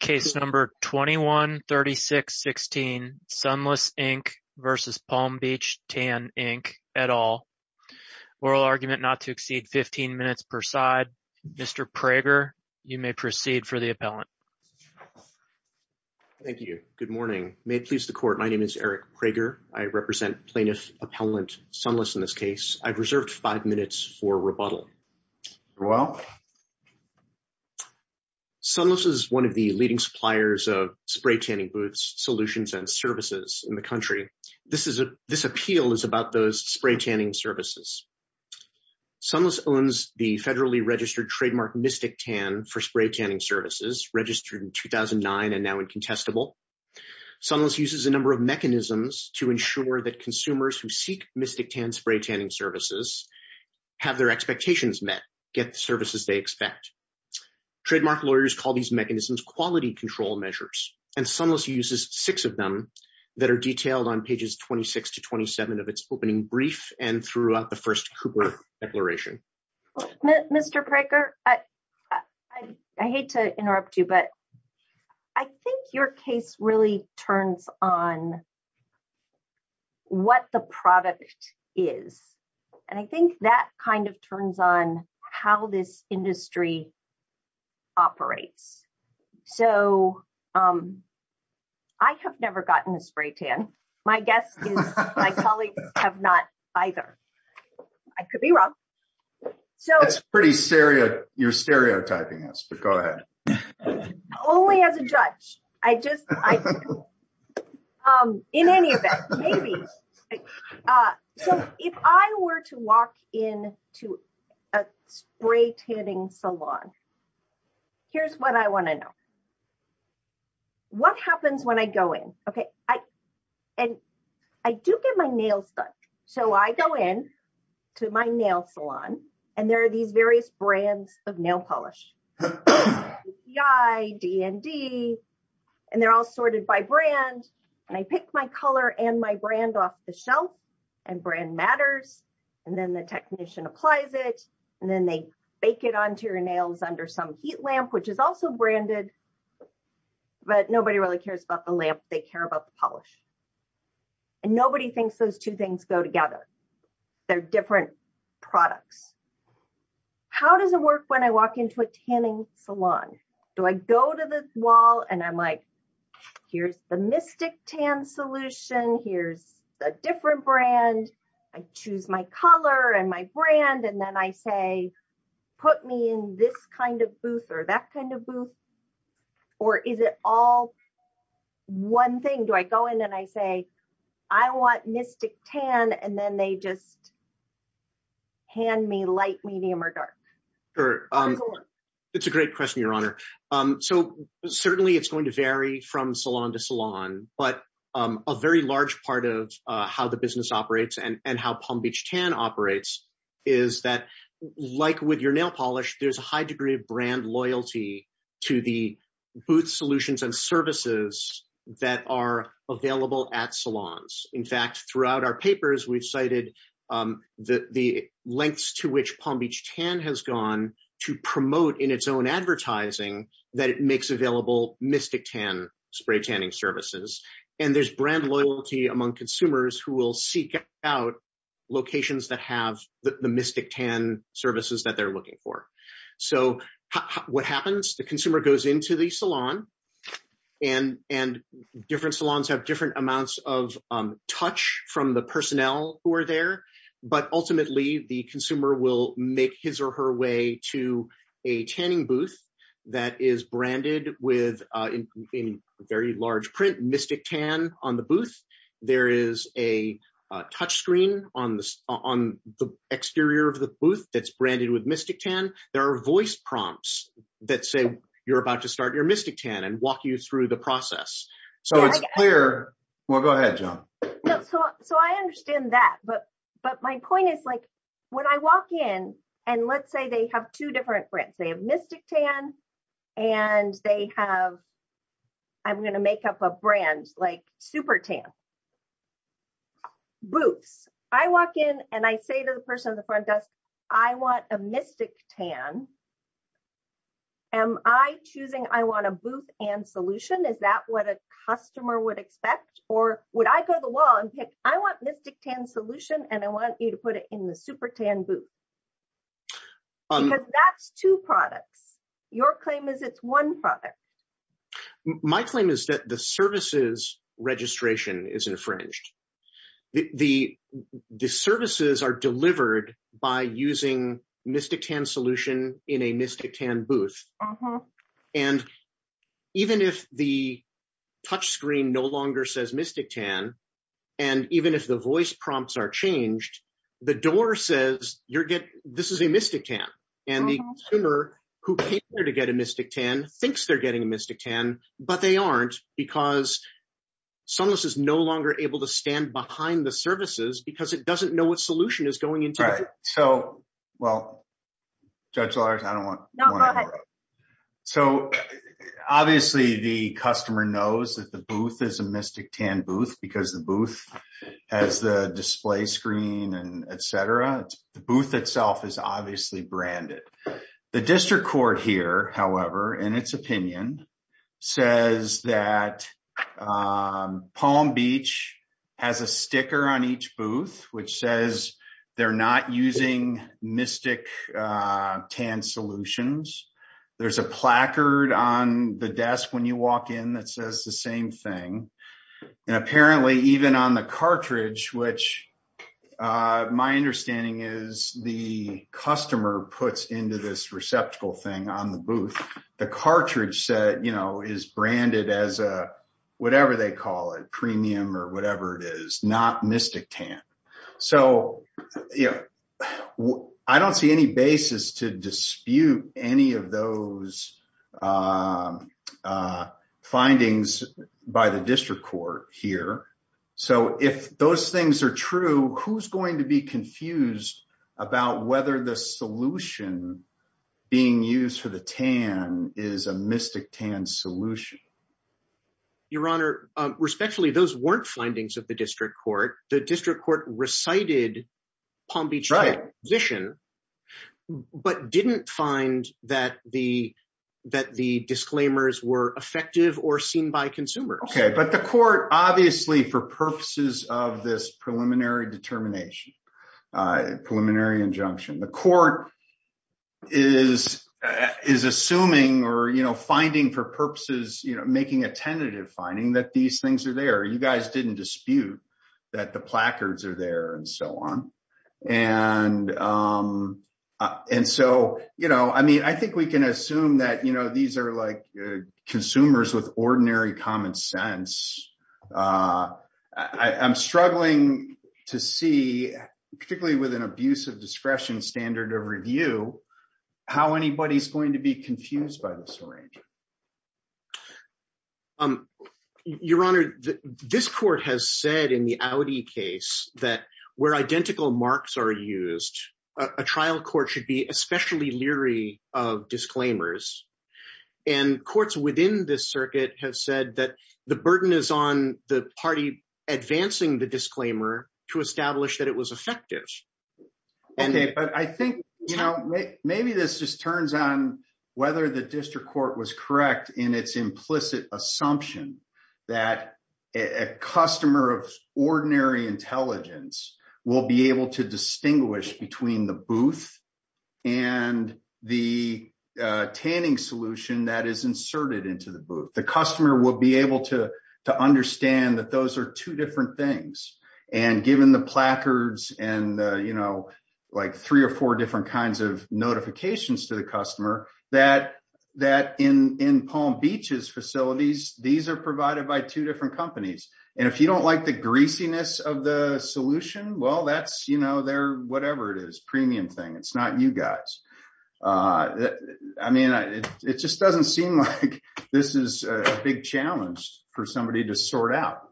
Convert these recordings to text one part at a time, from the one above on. Case number 21-36-16 Sunless Inc v. Palm Beach Tan Inc, et al. Oral argument not to exceed 15 minutes per side. Mr. Prager, you may proceed for the appellant. Thank you. Good morning. May it please the court, my name is Eric Prager. I represent plaintiff appellant Sunless in this case. I've reserved five minutes for rebuttal. You're welcome. Sunless is one of the leading suppliers of spray tanning booths, solutions, and services in the country. This appeal is about those spray tanning services. Sunless owns the federally registered trademark Mystic Tan for spray tanning services, registered in 2009 and now incontestable. Sunless uses a number of mechanisms to ensure that get the services they expect. Trademark lawyers call these mechanisms quality control measures, and Sunless uses six of them that are detailed on pages 26 to 27 of its opening brief and throughout the first Cooper declaration. Mr. Prager, I hate to interrupt you, but I think your case really turns on what the product is. And I think that kind of turns on how this industry operates. So I have never gotten a spray tan. My guess is my colleagues have not either. I could be wrong. So it's pretty serious. You're stereotyping us, but go ahead. Only as a judge. I just, in any event, maybe. So if I were to walk in to a spray tanning salon, here's what I want to know. What happens when I go in? Okay. And I do get my nails done. So I go in to my nail salon, and there are these various brands of nail polish, DND, and they're all sorted by brand. And I pick my color and my brand off the shelf and brand matters. And then the technician applies it. And then they bake it onto your nails under some heat lamp, which is also branded, but nobody really cares about the lamp. They care about the polish. And nobody thinks those two things go together. They're different products. How does it work when I walk into a tanning salon? Do I go to the wall and I'm like, here's the mystic tan solution. Here's a different brand. I choose my color and my brand. And then I put me in this kind of booth or that kind of booth, or is it all one thing? Do I go in and I say, I want mystic tan, and then they just hand me light, medium, or dark? It's a great question, Your Honor. So certainly it's going to vary from salon to salon, but a very large part of how the business operates and how Palm Beach Tan operates is that like with your nail polish, there's a high degree of brand loyalty to the booth solutions and services that are available at salons. In fact, throughout our papers, we've cited the lengths to which Palm Beach Tan has gone to promote in its own advertising that it makes available mystic tan spray tanning services. And there's brand loyalty among consumers who will seek out locations that have the mystic tan services that they're looking for. So what happens? The consumer goes into the salon and different salons have different amounts of touch from the personnel who are there, but ultimately the consumer will make his or her way to a tanning booth that is branded with, in very large print, mystic tan on the booth. There is a touch screen on the exterior of the booth that's branded with mystic tan. There are voice prompts that say you're about to start your mystic tan and walk you through the process. So it's clear. Well, go ahead, John. So I understand that, but my point is like I walk in and let's say they have two different brands. They have mystic tan and they have, I'm going to make up a brand like super tan. Booths. I walk in and I say to the person in the front desk, I want a mystic tan. Am I choosing I want a booth and solution? Is that what a customer would expect? Or would I go to the wall and pick, I want mystic tan solution and I want you to put it in the super tan booth. That's two products. Your claim is it's one product. My claim is that the services registration is infringed. The, the, the services are delivered by using mystic tan solution in a mystic tan booth. And even if the touch screen no longer says mystic tan, and even if the voice prompts are changed, the door says you're getting, this is a mystic tan. And the consumer who paid there to get a mystic tan thinks they're getting a mystic tan, but they aren't because. Sunless is no longer able to stand behind the services because it doesn't know what solution is going into it. So, well, judge Lars, I don't want. No, go ahead. So obviously the customer knows that the booth is a mystic tan booth because the booth has the display screen and et cetera. The booth itself is obviously branded the district court here. However, in its opinion says that Palm beach has a sticker on each booth, which says they're not using mystic tan solutions. There's a placard on the desk. When you walk in, that says the same thing. And apparently even on the cartridge, which my understanding is the customer puts into this receptacle thing on the booth, the cartridge set, you know, is branded as a. They call it premium or whatever it is, not mystic tan. So, you know, I don't see any basis to dispute any of those, um, uh, findings by the district court here. So if those things are true, who's going to be confused about whether the solution being used for the tan is a mystic tan solution. Your honor respectfully, those weren't findings of the district court, the district court recited Palm beach position, but didn't find that the, that the disclaimers were effective or seen by consumers. Okay. But the court obviously for purposes of this preliminary determination, uh, preliminary injunction, the court is, is assuming, or, finding for purposes, you know, making a tentative finding that these things are there, you guys didn't dispute that the placards are there and so on. And, um, uh, and so, you know, I mean, I think we can assume that, you know, these are like consumers with ordinary common sense. Uh, I I'm struggling to see particularly with an abuse of discretion, standard of review, how anybody's going to be confused by the syringe. Um, your honor, this court has said in the Audi case that where identical marks are used, a trial court should be especially leery of disclaimers and courts within this circuit has said that the burden is on the party, advancing the disclaimer to establish that was effective. Okay. But I think, you know, maybe this just turns on whether the district court was correct in its implicit assumption that a customer of ordinary intelligence will be able to distinguish between the booth and the, uh, tanning solution that is inserted into the booth. The customer will be able to, to understand that those are two different things. And given the placards and, uh, you know, like three or four different kinds of notifications to the customer that, that in, in Palm beaches facilities, these are provided by two different companies. And if you don't like the greasiness of the solution, well, that's, you know, they're whatever it is, premium thing. It's not you guys. Uh, I mean, it just doesn't seem like this is a big challenge for somebody to sort out.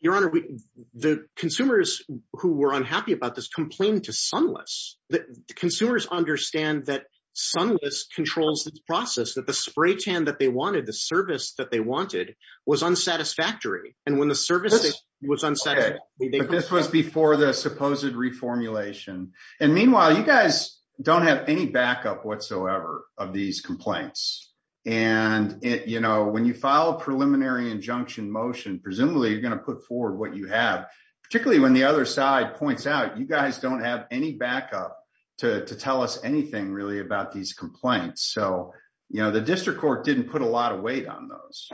Your honor, we, the consumers who were unhappy about this complaint to sunless that consumers understand that sunless controls the process, that the spray tan that they wanted, the service that they wanted was unsatisfactory. And when the service was unsatisfactory, this was before the supposed reformulation. And meanwhile, you guys don't have any backup of these complaints. And it, you know, when you file a preliminary injunction motion, presumably you're going to put forward what you have, particularly when the other side points out, you guys don't have any backup to, to tell us anything really about these complaints. So, you know, the district court didn't put a lot of weight on those.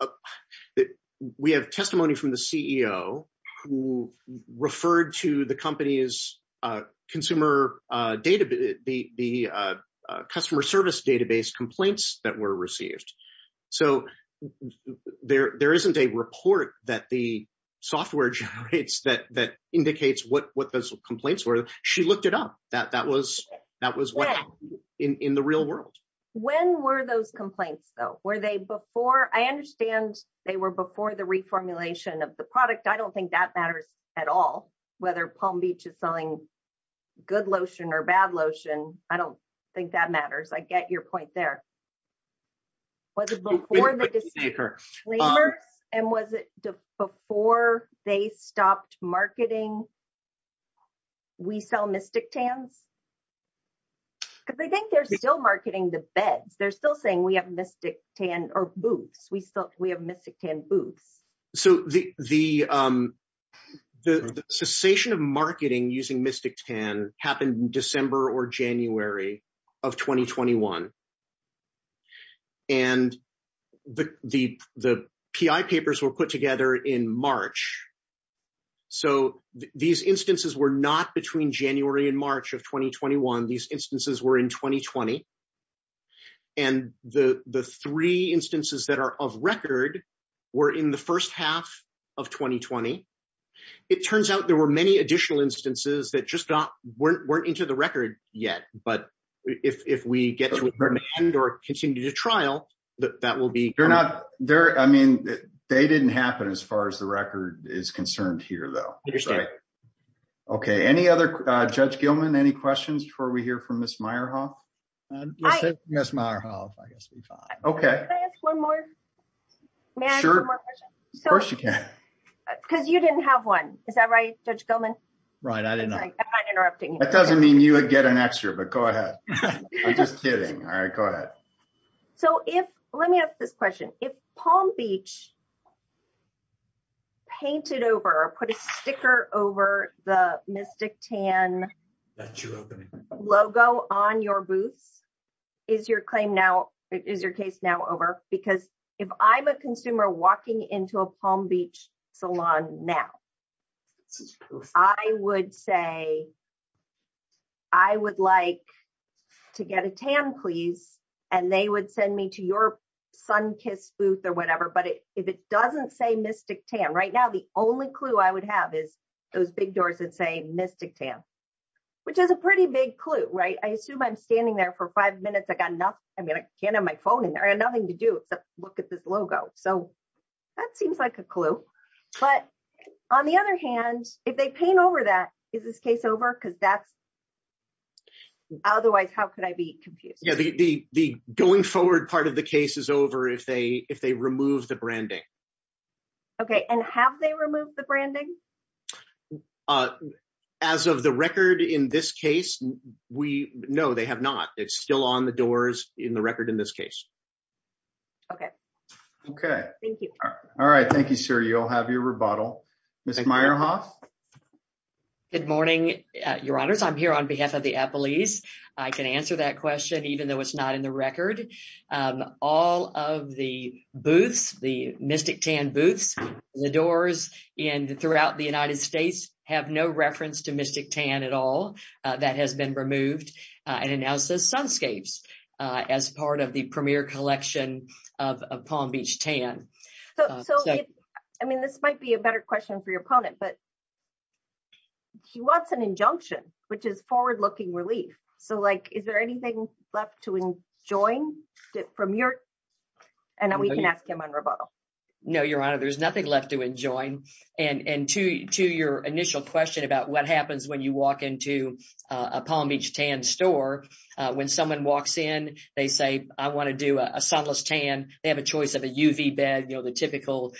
Uh, we have testimony from the CEO who referred to the company's, uh, consumer, uh, data, the, the, uh, uh, customer service database complaints that were received. So there, there isn't a report that the software generates that, that indicates what, what those complaints were. She looked it up. That, that was, that was in the real world. When were those complaints though? Were they before? I understand they were before the reformulation of the product. I don't think that matters at all. Whether Palm beach is selling good lotion or bad lotion. I don't think that matters. I get your point there. Was it before the disclaimer and was it before they stopped marketing? We sell mystic tans because I think they're still marketing the beds. They're still saying we have mystic tan or booths. We still, we have mystic tan booths. So the, the, um, the cessation of marketing using mystic tan happened in December or January of 2021. And the, the, the PI papers were put together in March. So these instances were not between January and March of 2021. These instances were in 2020 and the, the three instances that are of record were in the first half of 2020. It turns out there were many additional instances that just weren't into the record yet. But if, if we get to a certain end or continue to trial that that will be, they're not there. I mean, they didn't happen as far as the record is concerned here though. Okay. Any other, uh, judge Gilman, any questions before we hear from Ms. Meyerhoff? Yes. Meyerhoff. I guess we fine. Okay. Can I ask one more? Sure. Of course you can. Because you didn't have one. Is that right? Judge Gilman? Right. I didn't know. I'm not interrupting. That doesn't mean you would get an extra, but go ahead. I'm just kidding. All right, go ahead. So if, let me ask this question. If Palm beach painted over or put a sticker over the mystic tan logo on your booths, is your claim now, is your case now over? Because if I'm a consumer walking into a Palm beach salon now, I would say, I would like to get a tan please. And they would send me to your sun kiss booth or whatever. But if it doesn't say mystic tan right now, the only clue I would have is those big doors that say mystic tan, which is a pretty big clue, right? I assume I'm standing there for five minutes. I mean, I can't have my phone in there and nothing to do except look at this logo. So that seems like a clue, but on the other hand, if they paint over that, is this case over? Cause that's otherwise, how could I be confused? The going forward part of the case is over if they, if they remove the branding. Okay. And have they removed the branding? Uh, as of the record in this case, we know they have not, it's still on the doors in the record in this case. Okay. Okay. All right. Thank you, sir. You'll have your rebuttal. Ms. Meyerhoff. Good morning, your honors. I'm here on behalf of the Apple East. I can answer that question, even though it's not in the record. Um, all of the booths, the mystic tan booths, the doors in throughout the United States have no reference to mystic tan at all. Uh, that has been removed and announced as sunscapes, uh, as part of the premier collection of, of Palm beach tan. I mean, this might be a better question for your opponent, but he wants an injunction, which is forward looking relief. So like, is there anything left to enjoy from your, and then we can ask him on rebuttal. No, your honor, there's nothing left to enjoy. And, and to, to your initial question about what happens when you walk into a Palm beach tan store, uh, when someone walks in, they say, I want to do a sunless tan. They have a choice of a UV bed, you know, the typical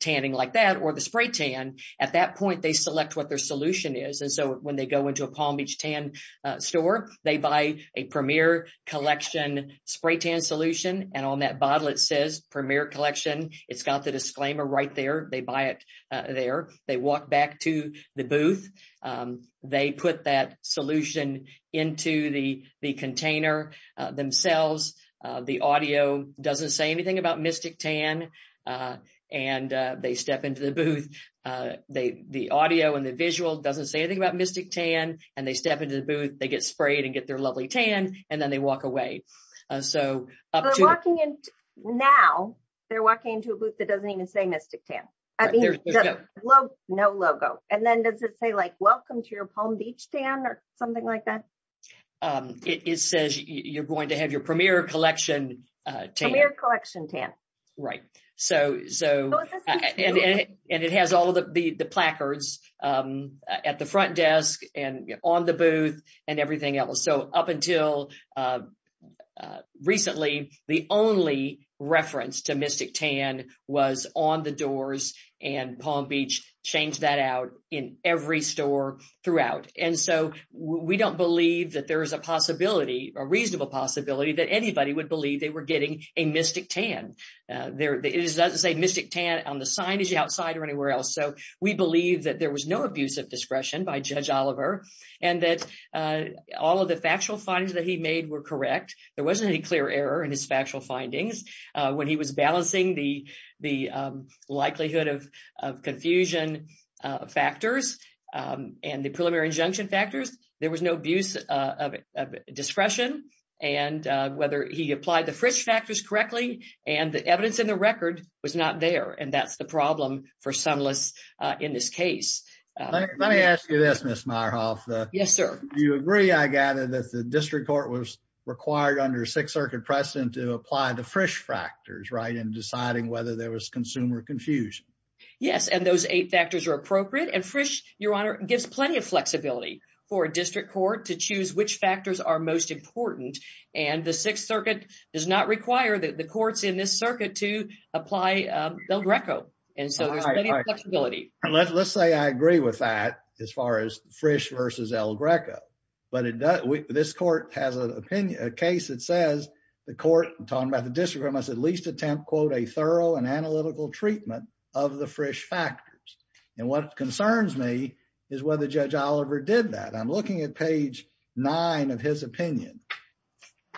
tanning like that, or the spray tan at that point, they select what their solution is. And so when they go into a Palm beach tan store, they buy a premier collection spray tan solution. And on that bottle, it says premier collection. It's got the disclaimer right there. They buy it there. They walk back to the booth. Um, they put that solution into the, the container themselves. Uh, the audio doesn't say anything about mystic tan. Uh, and, uh, they step into the booth, uh, they, the audio and the visual doesn't say anything about mystic tan and they step into the booth, they get sprayed and get their lovely tan, and then they walk away. Uh, so up to now they're walking into a booth that doesn't even say mystic tan. I mean, no logo. And then does it say like, welcome to your Palm beach tan or something like that? Um, it says you're going to have your premier collection, uh, tan collection tan. Right. So, so, and it has all the, the, the placards, um, at the front desk and on the booth and everything else. So up until, uh, uh, recently the only reference to mystic tan was on the doors and Palm beach changed that out in every store throughout. And so we don't believe that there is a possibility or reasonable possibility that anybody would believe they were getting a mystic tan. Uh, there, it doesn't say mystic tan on the signage outside or anywhere else. So we believe that there was no abuse of discretion by judge Oliver and that, uh, all of the factual findings that he made were correct. There wasn't any clear error in his factual findings. Uh, when he was balancing the, the, um, likelihood of, of confusion, uh, factors, um, and the preliminary injunction factors, there was no abuse of, of discretion and, uh, whether he applied the Frisch factors correctly and the evidence in the record was not there. And that's the problem for some lists, uh, in this case. Uh, let me ask you this, miss Meyerhoff. Uh, yes, sir. Do you agree? I gather that the district court was required under six circuit precedent to apply the Frisch factors, right. And deciding whether there was consumer confusion. Yes. And those eight factors are appropriate and Frisch, your honor gives plenty of flexibility for a district court to choose which factors are most important. And the sixth circuit does not require that the courts in this circuit to apply, um, El Greco. And so there's plenty of flexibility. Let's, let's say I agree with that as far as Frisch versus El Greco, but it does, we, this court has an opinion, a case that says the court talking about the district must at least attempt quote, a thorough and analytical treatment of the Frisch factors. And what concerns me is whether judge Oliver did that. I'm looking at page nine of his opinion.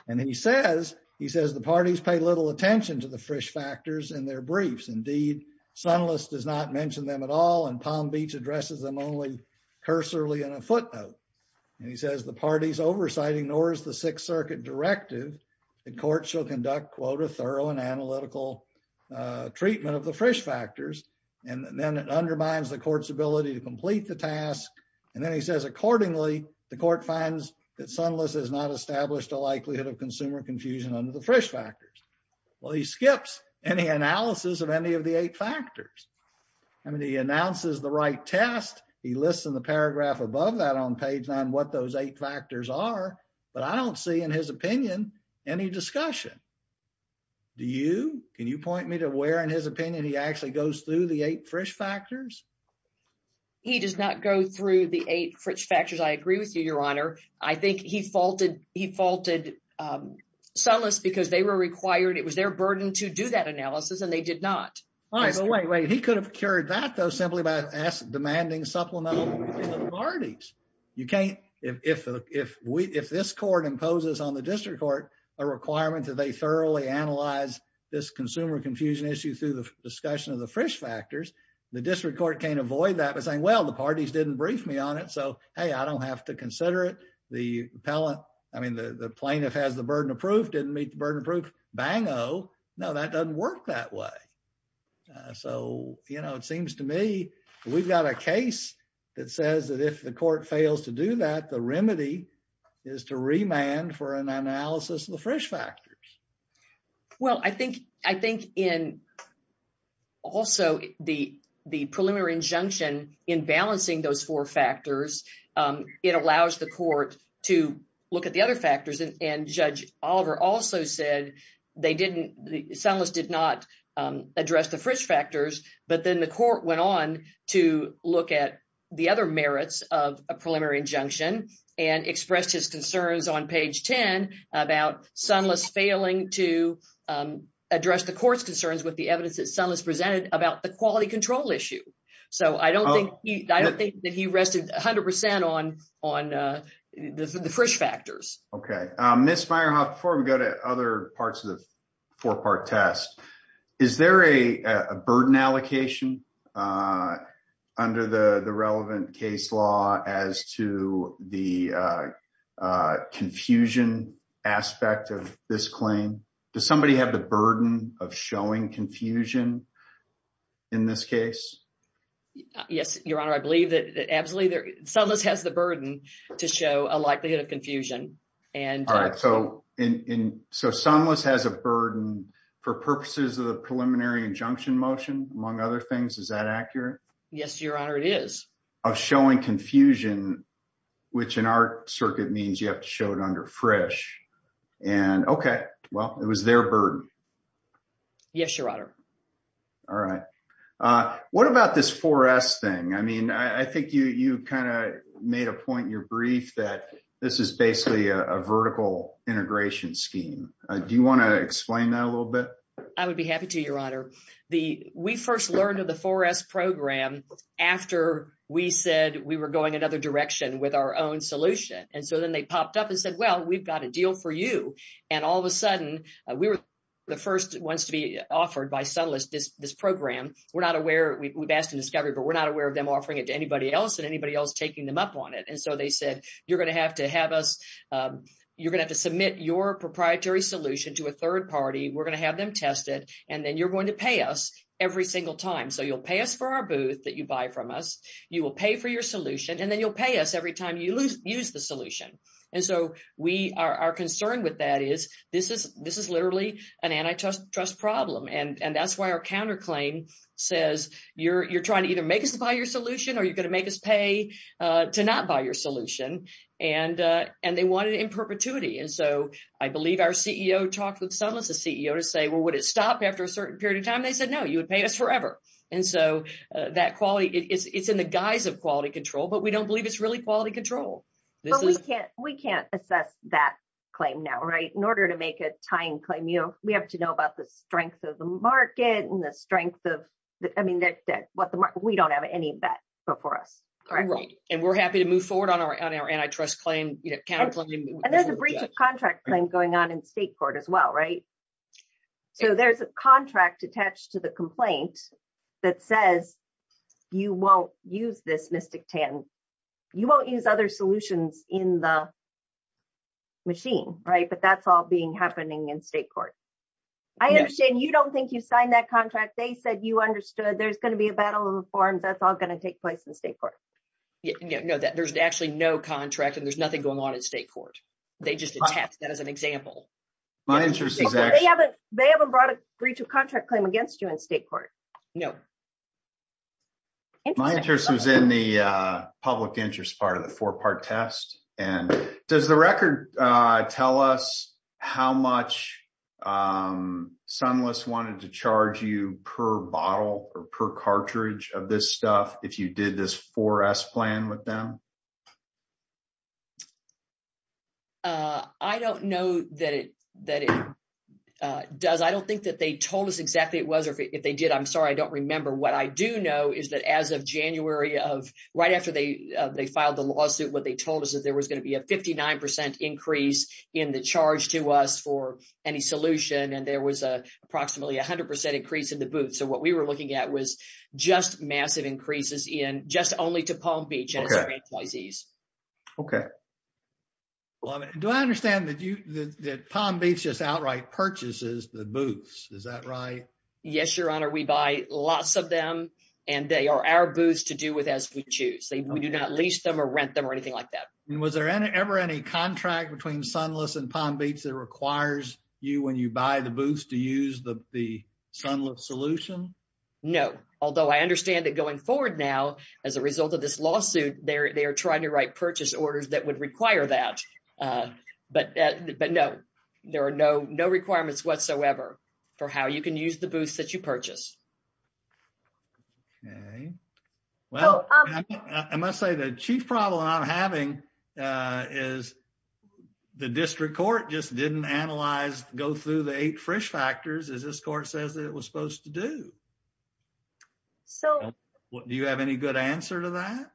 And he says, he says the parties pay little attention to the Frisch factors and their briefs. Indeed, Sunless does not mention them at all. And Palm Beach addresses them only cursorily in a footnote. And he says the parties oversight ignores the sixth circuit directive. The court shall conduct quote, a thorough and analytical, uh, treatment of the Frisch factors. And then it undermines the court's ability to complete the task. And then he says, accordingly, the court finds that Sunless has not established a likelihood of consumer confusion under the Frisch factors. Well, he skips any analysis of any of the eight factors. I mean, he announces the right test. He lists in the paragraph above that on page nine, what those eight factors are, but I don't see in his opinion, any discussion. Do you, can you point me to where, in his opinion, he actually goes through the eight Frisch factors? He does not go through the eight Frisch factors. I agree with you, Your Honor. I think he faulted, he faulted, um, Sunless because they were required, it was their burden to do that analysis and they did not. All right, but wait, wait, he could have cured that though, simply by demanding supplemental parties. You can't, if, if, if we, if this court imposes on the district court a requirement that they thoroughly analyze this consumer confusion issue through the discussion of the Frisch factors, the district court can't avoid that by saying, well, the parties didn't brief me on it, so, hey, I don't have to consider it. The appellant, I mean, the, the plaintiff has the burden of proof, didn't meet the burden of proof, bango. No, that doesn't work that way. So, you know, it seems to me we've got a case that says that if the court fails to do that, the remedy is to remand for an analysis of the Frisch factors. Well, I think, I think in also the, the preliminary injunction in balancing those four factors, um, it allows the court to look at the other factors and Judge Oliver also said they didn't, Sunless did not, um, address the Frisch factors, but then the court went on to look at the other merits of a preliminary injunction and expressed his concerns on page 10 about Sunless failing to, um, address the court's evidence that Sunless presented about the quality control issue. So, I don't think he, I don't think that he rested 100% on, on, uh, the Frisch factors. Okay. Um, Ms. Meyerhoff, before we go to other parts of the four-part test, is there a, a burden allocation, uh, under the, the relevant case law as to the, uh, uh, confusion aspect of this claim? Does somebody have the burden of showing confusion in this case? Yes, Your Honor, I believe that absolutely there, Sunless has the burden to show a likelihood of confusion and... All right. So, in, in, so Sunless has a burden for purposes of the preliminary injunction motion, among other things, is that accurate? Yes, Your Honor, it is. Of showing confusion, which in our circuit means you have to show it under Frisch, and, okay, well, it was their burden. Yes, Your Honor. All right. Uh, what about this 4S thing? I mean, I, I think you, you kind of made a point in your brief that this is basically a, a vertical integration scheme. Uh, do you want to explain that a little bit? I would be happy to, Your Honor. The, we first learned of the 4S program after we said we were going another direction with our own solution, and so then they popped up and said, well, we've got a deal for you. And all of a sudden, uh, we were the first ones to be offered by Sunless, this, this program. We're not aware, we've asked in discovery, but we're not aware of them offering it to anybody else and anybody else taking them up on it. And so they said, you're going to have to have us, um, you're going to have to submit your proprietary solution to a third party. We're going to have them test it, and then you're going to pay us every single time. So you'll pay us for our booth that you buy from us. You will pay for your solution, and then you'll pay us every time you lose, use the solution. And so we are, our concern with that is this is, this is literally an antitrust, trust problem. And, and that's why our counterclaim says you're, you're trying to either make us buy your solution, or you're going to make us pay, uh, to not buy your solution. And, uh, and they want it in perpetuity. And so I believe our CEO talked with Sunless, the CEO to say, well, would it stop after a certain period of time? They said, no, you would pay us forever. And so, uh, that quality is, it's in the guise of quality control, but we don't believe it's really quality control. But we can't, we can't assess that claim now, right? In order to make a tying claim, you know, we have to know about the strength of the market and the strength of the, I mean, what the market, we don't have any bet before us. Right. And we're happy to move forward on our, on our antitrust claim, you know, counterclaim. And there's a breach of contract claim going on in state court as well, right? So there's a contract attached to the complaint that says you won't use this Mystic Tan. You won't use other solutions in the machine, right? But that's all being happening in state court. I understand you don't think you signed that contract. They said you understood there's going to be a battle of reforms. That's all going to take place in state court. Yeah. No, there's actually no contract and there's nothing going on in state court. They just attached that as an example. They haven't, they haven't brought a breach of contract claim against you in state court. No. My interest was in the public interest part of the four-part test. And does the record tell us how much Sunless wanted to charge you per bottle or per cartridge of this stuff, if you did this 4S plan with them? I don't know that it, that it does. I don't think that they told us exactly it was, or if they did, I'm sorry, I don't remember. What I do know is that as of January of, right after they, they filed the lawsuit, what they told us is there was going to be a 59% increase in the charge to us for any solution. And there was a approximately 100% increase in the booth. So what we were looking at was just massive increases in, just only to Palm Beach. Okay. Do I understand that you, that Palm Beach just outright purchases the booths? Is that right? Yes, your honor. We buy lots of them and they are our booths to do with as we choose. We do not lease them or rent them or anything like that. And was there ever any contract between Sunless and Palm Beach that requires you when you buy the booths to use the, the Sunless solution? No. Although I understand that going forward now, as a result of this lawsuit, they're, they're trying to write purchase orders that would require that. But, but no, there are no, no requirements whatsoever for how you can use the booths that you purchase. Okay. Well, I must say the chief problem I'm having is the district court just didn't analyze, go through the eight Frisch factors as this court says that it was supposed to do. So do you have any good answer to that?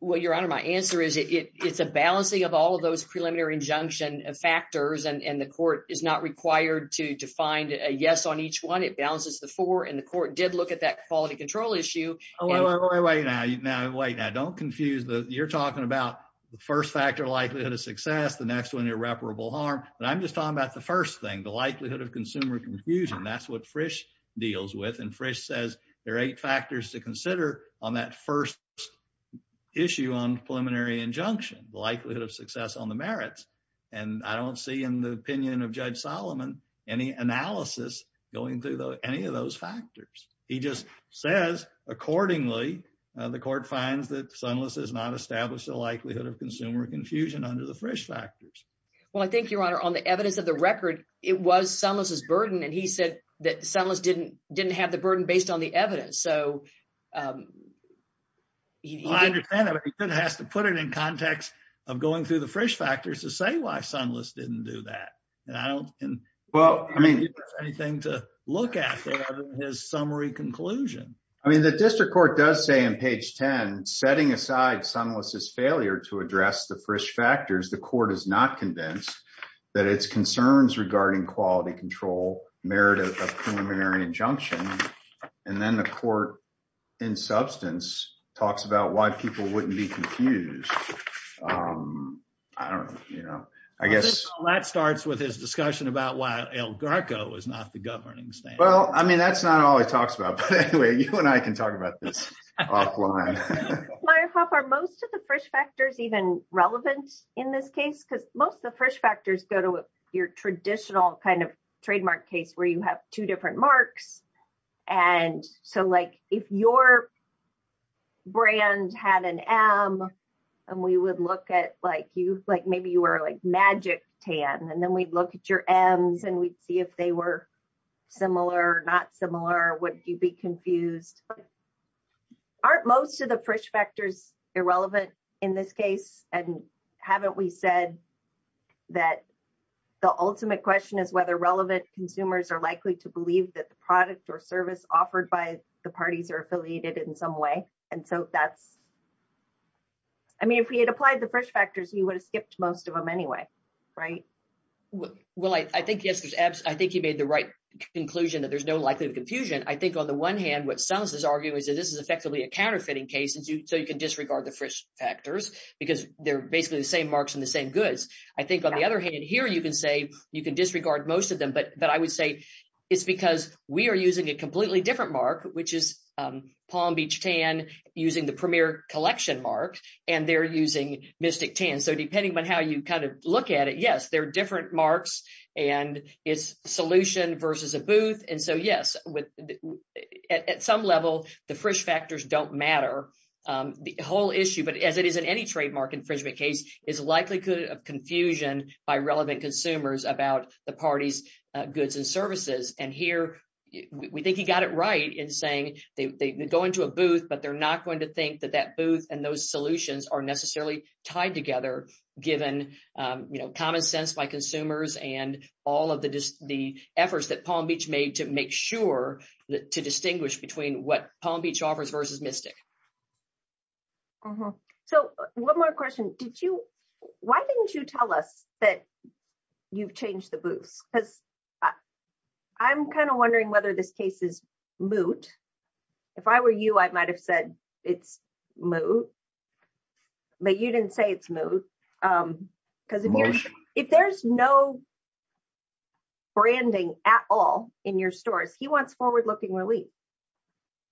Well, your honor, my answer is it, it's a balancing of all of those preliminary injunction factors and the court is not required to define a yes on each one. It balances the four and the court did look at that quality control issue. Oh, wait, wait, wait, wait. Now, now, wait, now don't confuse the, you're talking about the first factor likelihood of success, the next one irreparable harm. But I'm just talking about the first thing, the likelihood of consumer confusion. That's what Frisch deals with. And Frisch says there on the merits. And I don't see in the opinion of judge Solomon, any analysis going through any of those factors. He just says, accordingly, the court finds that Sunless has not established the likelihood of consumer confusion under the Frisch factors. Well, I think your honor, on the evidence of the record, it was Sunless's burden. And he said that Sunless didn't, didn't have the burden based on the evidence. So he has to put it in context of going through Frisch factors to say why Sunless didn't do that. And I don't think there's anything to look at there other than his summary conclusion. I mean, the district court does say on page 10, setting aside Sunless's failure to address the Frisch factors, the court is not convinced that it's concerns regarding quality control, merit of preliminary injunction. And then the I don't know, you know, I guess that starts with his discussion about why El Garco is not the governing state. Well, I mean, that's not all he talks about. But anyway, you and I can talk about this offline. Meyerhoff, are most of the Frisch factors even relevant in this case? Because most of the Frisch factors go to your traditional kind of trademark case where you have two different marks. And so like, if your brand had an M, and we would look at like you, like maybe you were like magic tan, and then we'd look at your M's and we'd see if they were similar or not similar, would you be confused? Aren't most of the Frisch factors irrelevant in this case? And haven't we said that the ultimate question is whether relevant consumers are likely to believe that the product or service offered by the parties are affiliated in some way. And so that's, I mean, if we had applied the Frisch factors, we would have skipped most of them anyway, right? Well, I think yes, I think you made the right conclusion that there's no likelihood of confusion. I think on the one hand, what Sunless is arguing is that this is effectively a counterfeiting case. And so you can disregard the Frisch factors, because they're basically the same marks and the same goods. I think on the other hand, here, you can say you can disregard most of them, but I would say it's because we are using a completely different mark, which is Palm Beach Tan using the Premier Collection mark, and they're using Mystic Tan. So depending on how you kind of look at it, yes, they're different marks and it's solution versus a booth. And so yes, at some level, the Frisch factors don't matter. The whole issue, but as it is in any trademark infringement case, is likelihood of confusion by relevant consumers about the party's goods and services. And here, we think he got it right in saying they go into a booth, but they're not going to think that that booth and those solutions are necessarily tied together, given common sense by consumers and all of the efforts that Palm Beach made to make sure to distinguish between what Palm Beach offers versus Mystic. So one more question. Why didn't you tell us that you've changed the booths? Because I'm kind of wondering whether this case is moot. If I were you, I might've said it's moot, but you didn't say it's moot. Because if there's no at all in your stores, he wants forward-looking relief.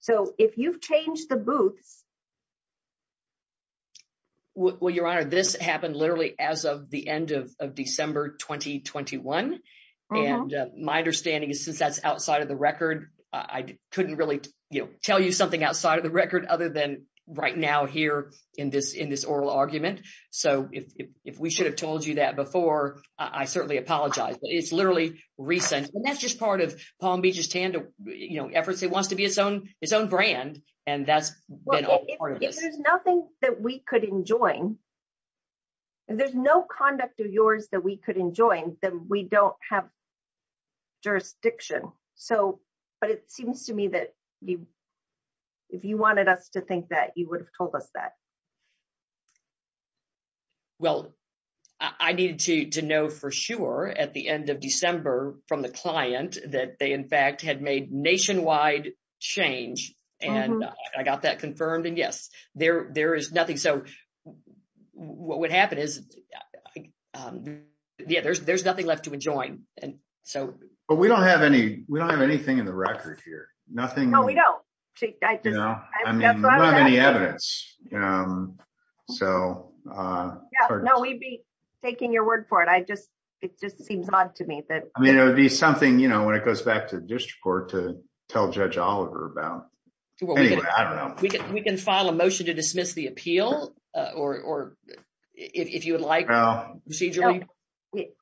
So if you've changed the booths... Well, Your Honor, this happened literally as of the end of December 2021. And my understanding is since that's outside of the record, I couldn't really tell you something outside of the record other than right now here in this oral argument. So if we should have told you that before, I certainly apologize, but it's literally recent. And that's just part of Palm Beach's efforts. It wants to be its own brand, and that's been all part of this. If there's nothing that we could enjoin, if there's no conduct of yours that we could enjoin, then we don't have jurisdiction. But it seems to me that if you wanted us to think that, you would have told us that. Well, I needed to know for sure at the end of December from the client that they in fact had made nationwide change. And I got that confirmed. And yes, there is nothing. So what would happen is, yeah, there's nothing left to enjoin. But we don't have anything in the record here. Nothing. No, we don't. No. I mean, we don't have any evidence. Yeah. No, we'd be taking your word for it. It just seems odd to me that- I mean, it would be something when it goes back to the district court to tell Judge Oliver about. Anyway, I don't know. We can file a motion to dismiss the appeal, if you would like, procedurally.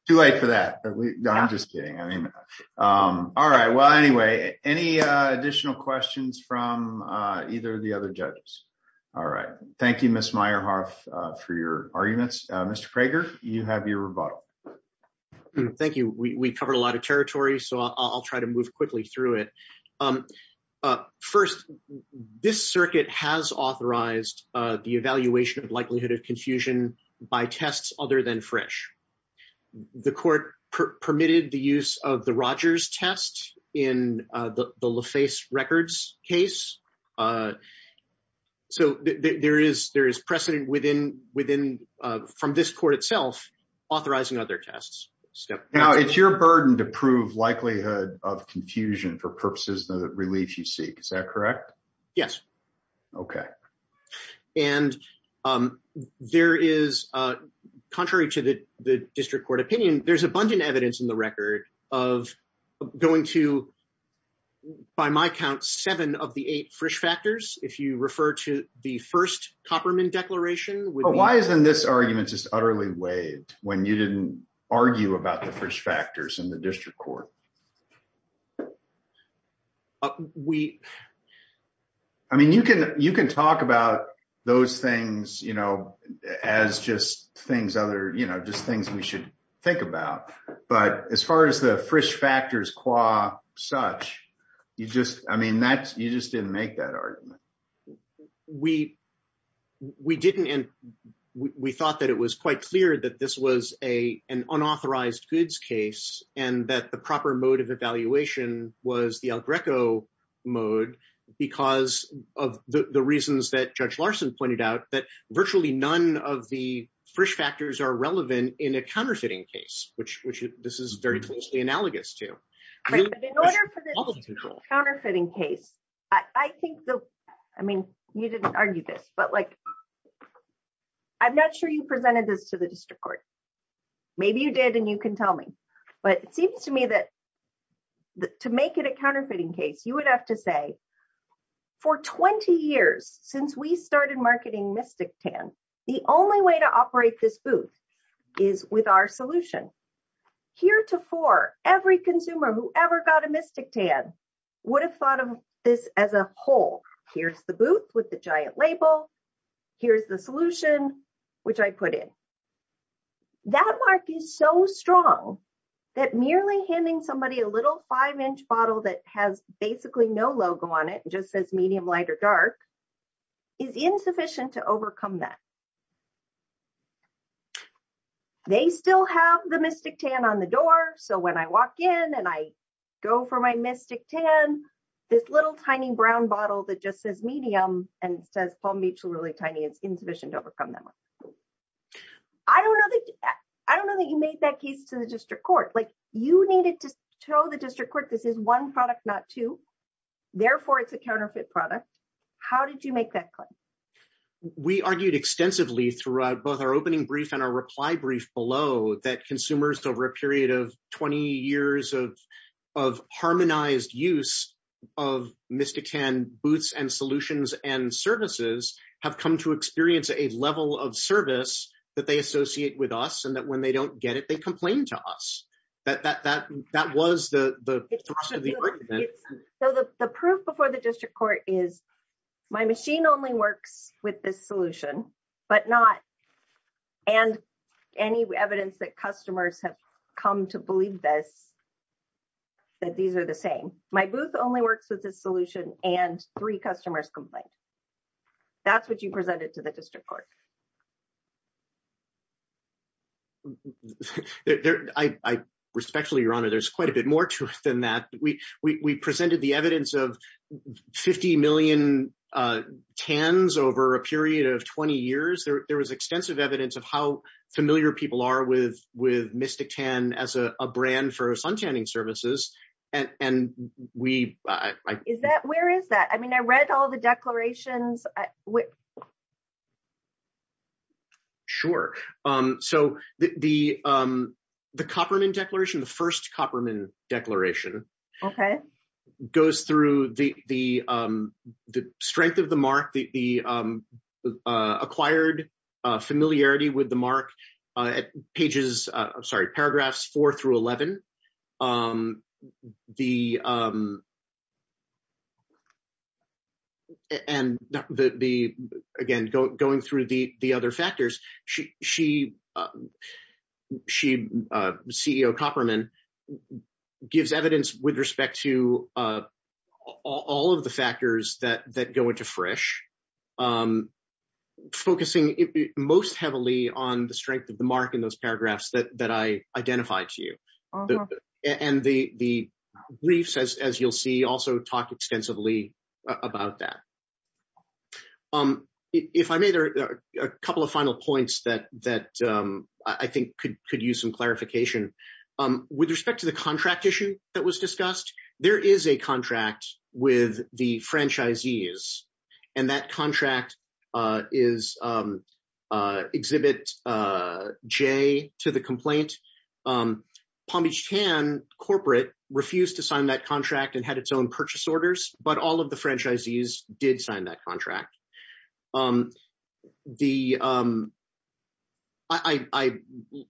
Too late for that. No, I'm just kidding. All right. Well, anyway, any additional questions from either of the other judges? All right. Thank you, Ms. Meyerhoff, for your arguments. Mr. Prager, you have your rebuttal. Thank you. We covered a lot of territory, so I'll try to move quickly through it. First, this circuit has authorized the evaluation of likelihood of confusion by tests other than fresh. The court permitted the use of the Rogers test in the LaFace records case. So there is precedent from this court itself authorizing other tests. Now, it's your burden to prove likelihood of confusion for purposes of the relief you seek. Is that correct? Yes. Okay. And there is, contrary to the district court opinion, there's abundant evidence in the record of going to, by my count, seven of the eight Frisch factors, if you refer to the first Copperman declaration. Why isn't this argument just utterly waived when you didn't argue about the Frisch factors in the district court? We, I mean, you can talk about those things, you know, as just things other, you know, just things we should think about. But as far as the Frisch factors qua such, you just, I mean, that's, you just didn't make that argument. We didn't, and we thought that it was quite clear that this was an unauthorized goods case and that the proper mode of evaluation was the El Greco mode because of the reasons that Judge Larson pointed out that virtually none of the Frisch factors are relevant in a counterfeiting case, which, which this is very closely analogous to. Right, but in order for this to be a counterfeiting case, I think the, I mean, you didn't argue this, but like, I'm not sure you presented this to the district court. Maybe you did and you can tell me, but it seems to me that to make it a counterfeiting case, you would have to say for 20 years, since we started marketing Mystic Tan, the only way to operate this booth is with our solution. Here to for every consumer, whoever got a Mystic Tan would have thought of this as a whole. Here's the booth with the giant label. Here's the solution, which I put in. That mark is so strong that merely handing somebody a little five-inch bottle that has basically no logo on it, just says medium, light, or dark is insufficient to overcome that. They still have the Mystic Tan on the door, so when I walk in and I go for my Mystic Tan, this little tiny brown bottle that just says medium and says Palm Beach really tiny, it's insufficient to overcome that one. I don't know that you made that case to the district court. You needed to tell the district court this is one product, not two. Therefore, it's a counterfeit product. How did you make that claim? We argued extensively throughout both our opening brief and our reply brief below that consumers over a period of 20 years of harmonized use of Mystic Tan booths and solutions and service that they associate with us and that when they don't get it, they complain to us. That was the argument. The proof before the district court is my machine only works with this solution, but not any evidence that customers have come to believe that these are the same. My booth only works with this solution and three customers complained. That's what you presented to the district court. I respectfully, Your Honor, there's quite a bit more to it than that. We presented the evidence of 50 million tans over a period of 20 years. There was extensive evidence of how familiar people are with Mystic Tan as a brand for sun tanning services. Where is that? I mean, I read all the declarations. Sure. The Copperman Declaration, the first Copperman Declaration, goes through the strength of the mark, the acquired familiarity with the mark at the time. The CEO of Copperman gives evidence with respect to all of the factors that go into Frisch, focusing most heavily on the strength of the mark in those paragraphs that I identified to you. The briefs, as you'll see, also talk extensively about that. If I may, there are a couple of final points that I think could use some clarification. With respect to the contract issue that was discussed, there is a contract with the franchisees and that contract is Exhibit J to the complaint. Palm Beach Tan corporate refused to sign that contract and had its own purchase orders, but all of the franchisees did sign that contract. I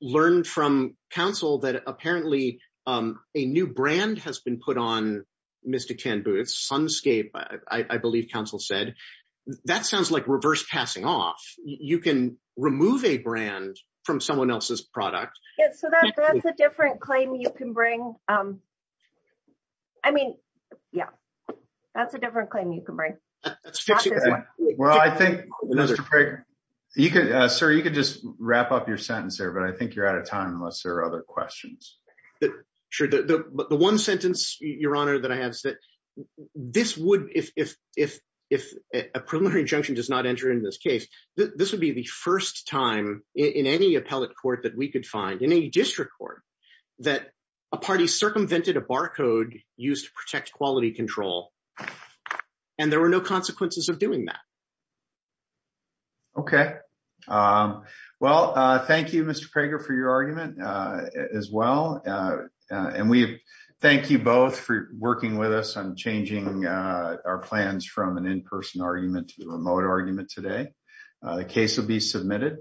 learned from Council that apparently a new brand has been put on Mystic Tan booths, Sunscape, I believe Council said. That sounds like reverse passing off. You can remove a brand from someone else's product. That's a different claim you can bring. Sir, you can just wrap up your sentence there, but I think you're out of time unless there are other questions. The one sentence, Your Honor, that I have is that if a preliminary injunction does not enter into this case, this would be the first time in any appellate court that we could find, in any district court, that a party circumvented a barcode used to protect quality control and there were no consequences of doing that. Thank you, Mr. Prager, for your argument as well. We thank you both for working with us on changing our plans from an in-person argument to a remote argument today. The case will be submitted.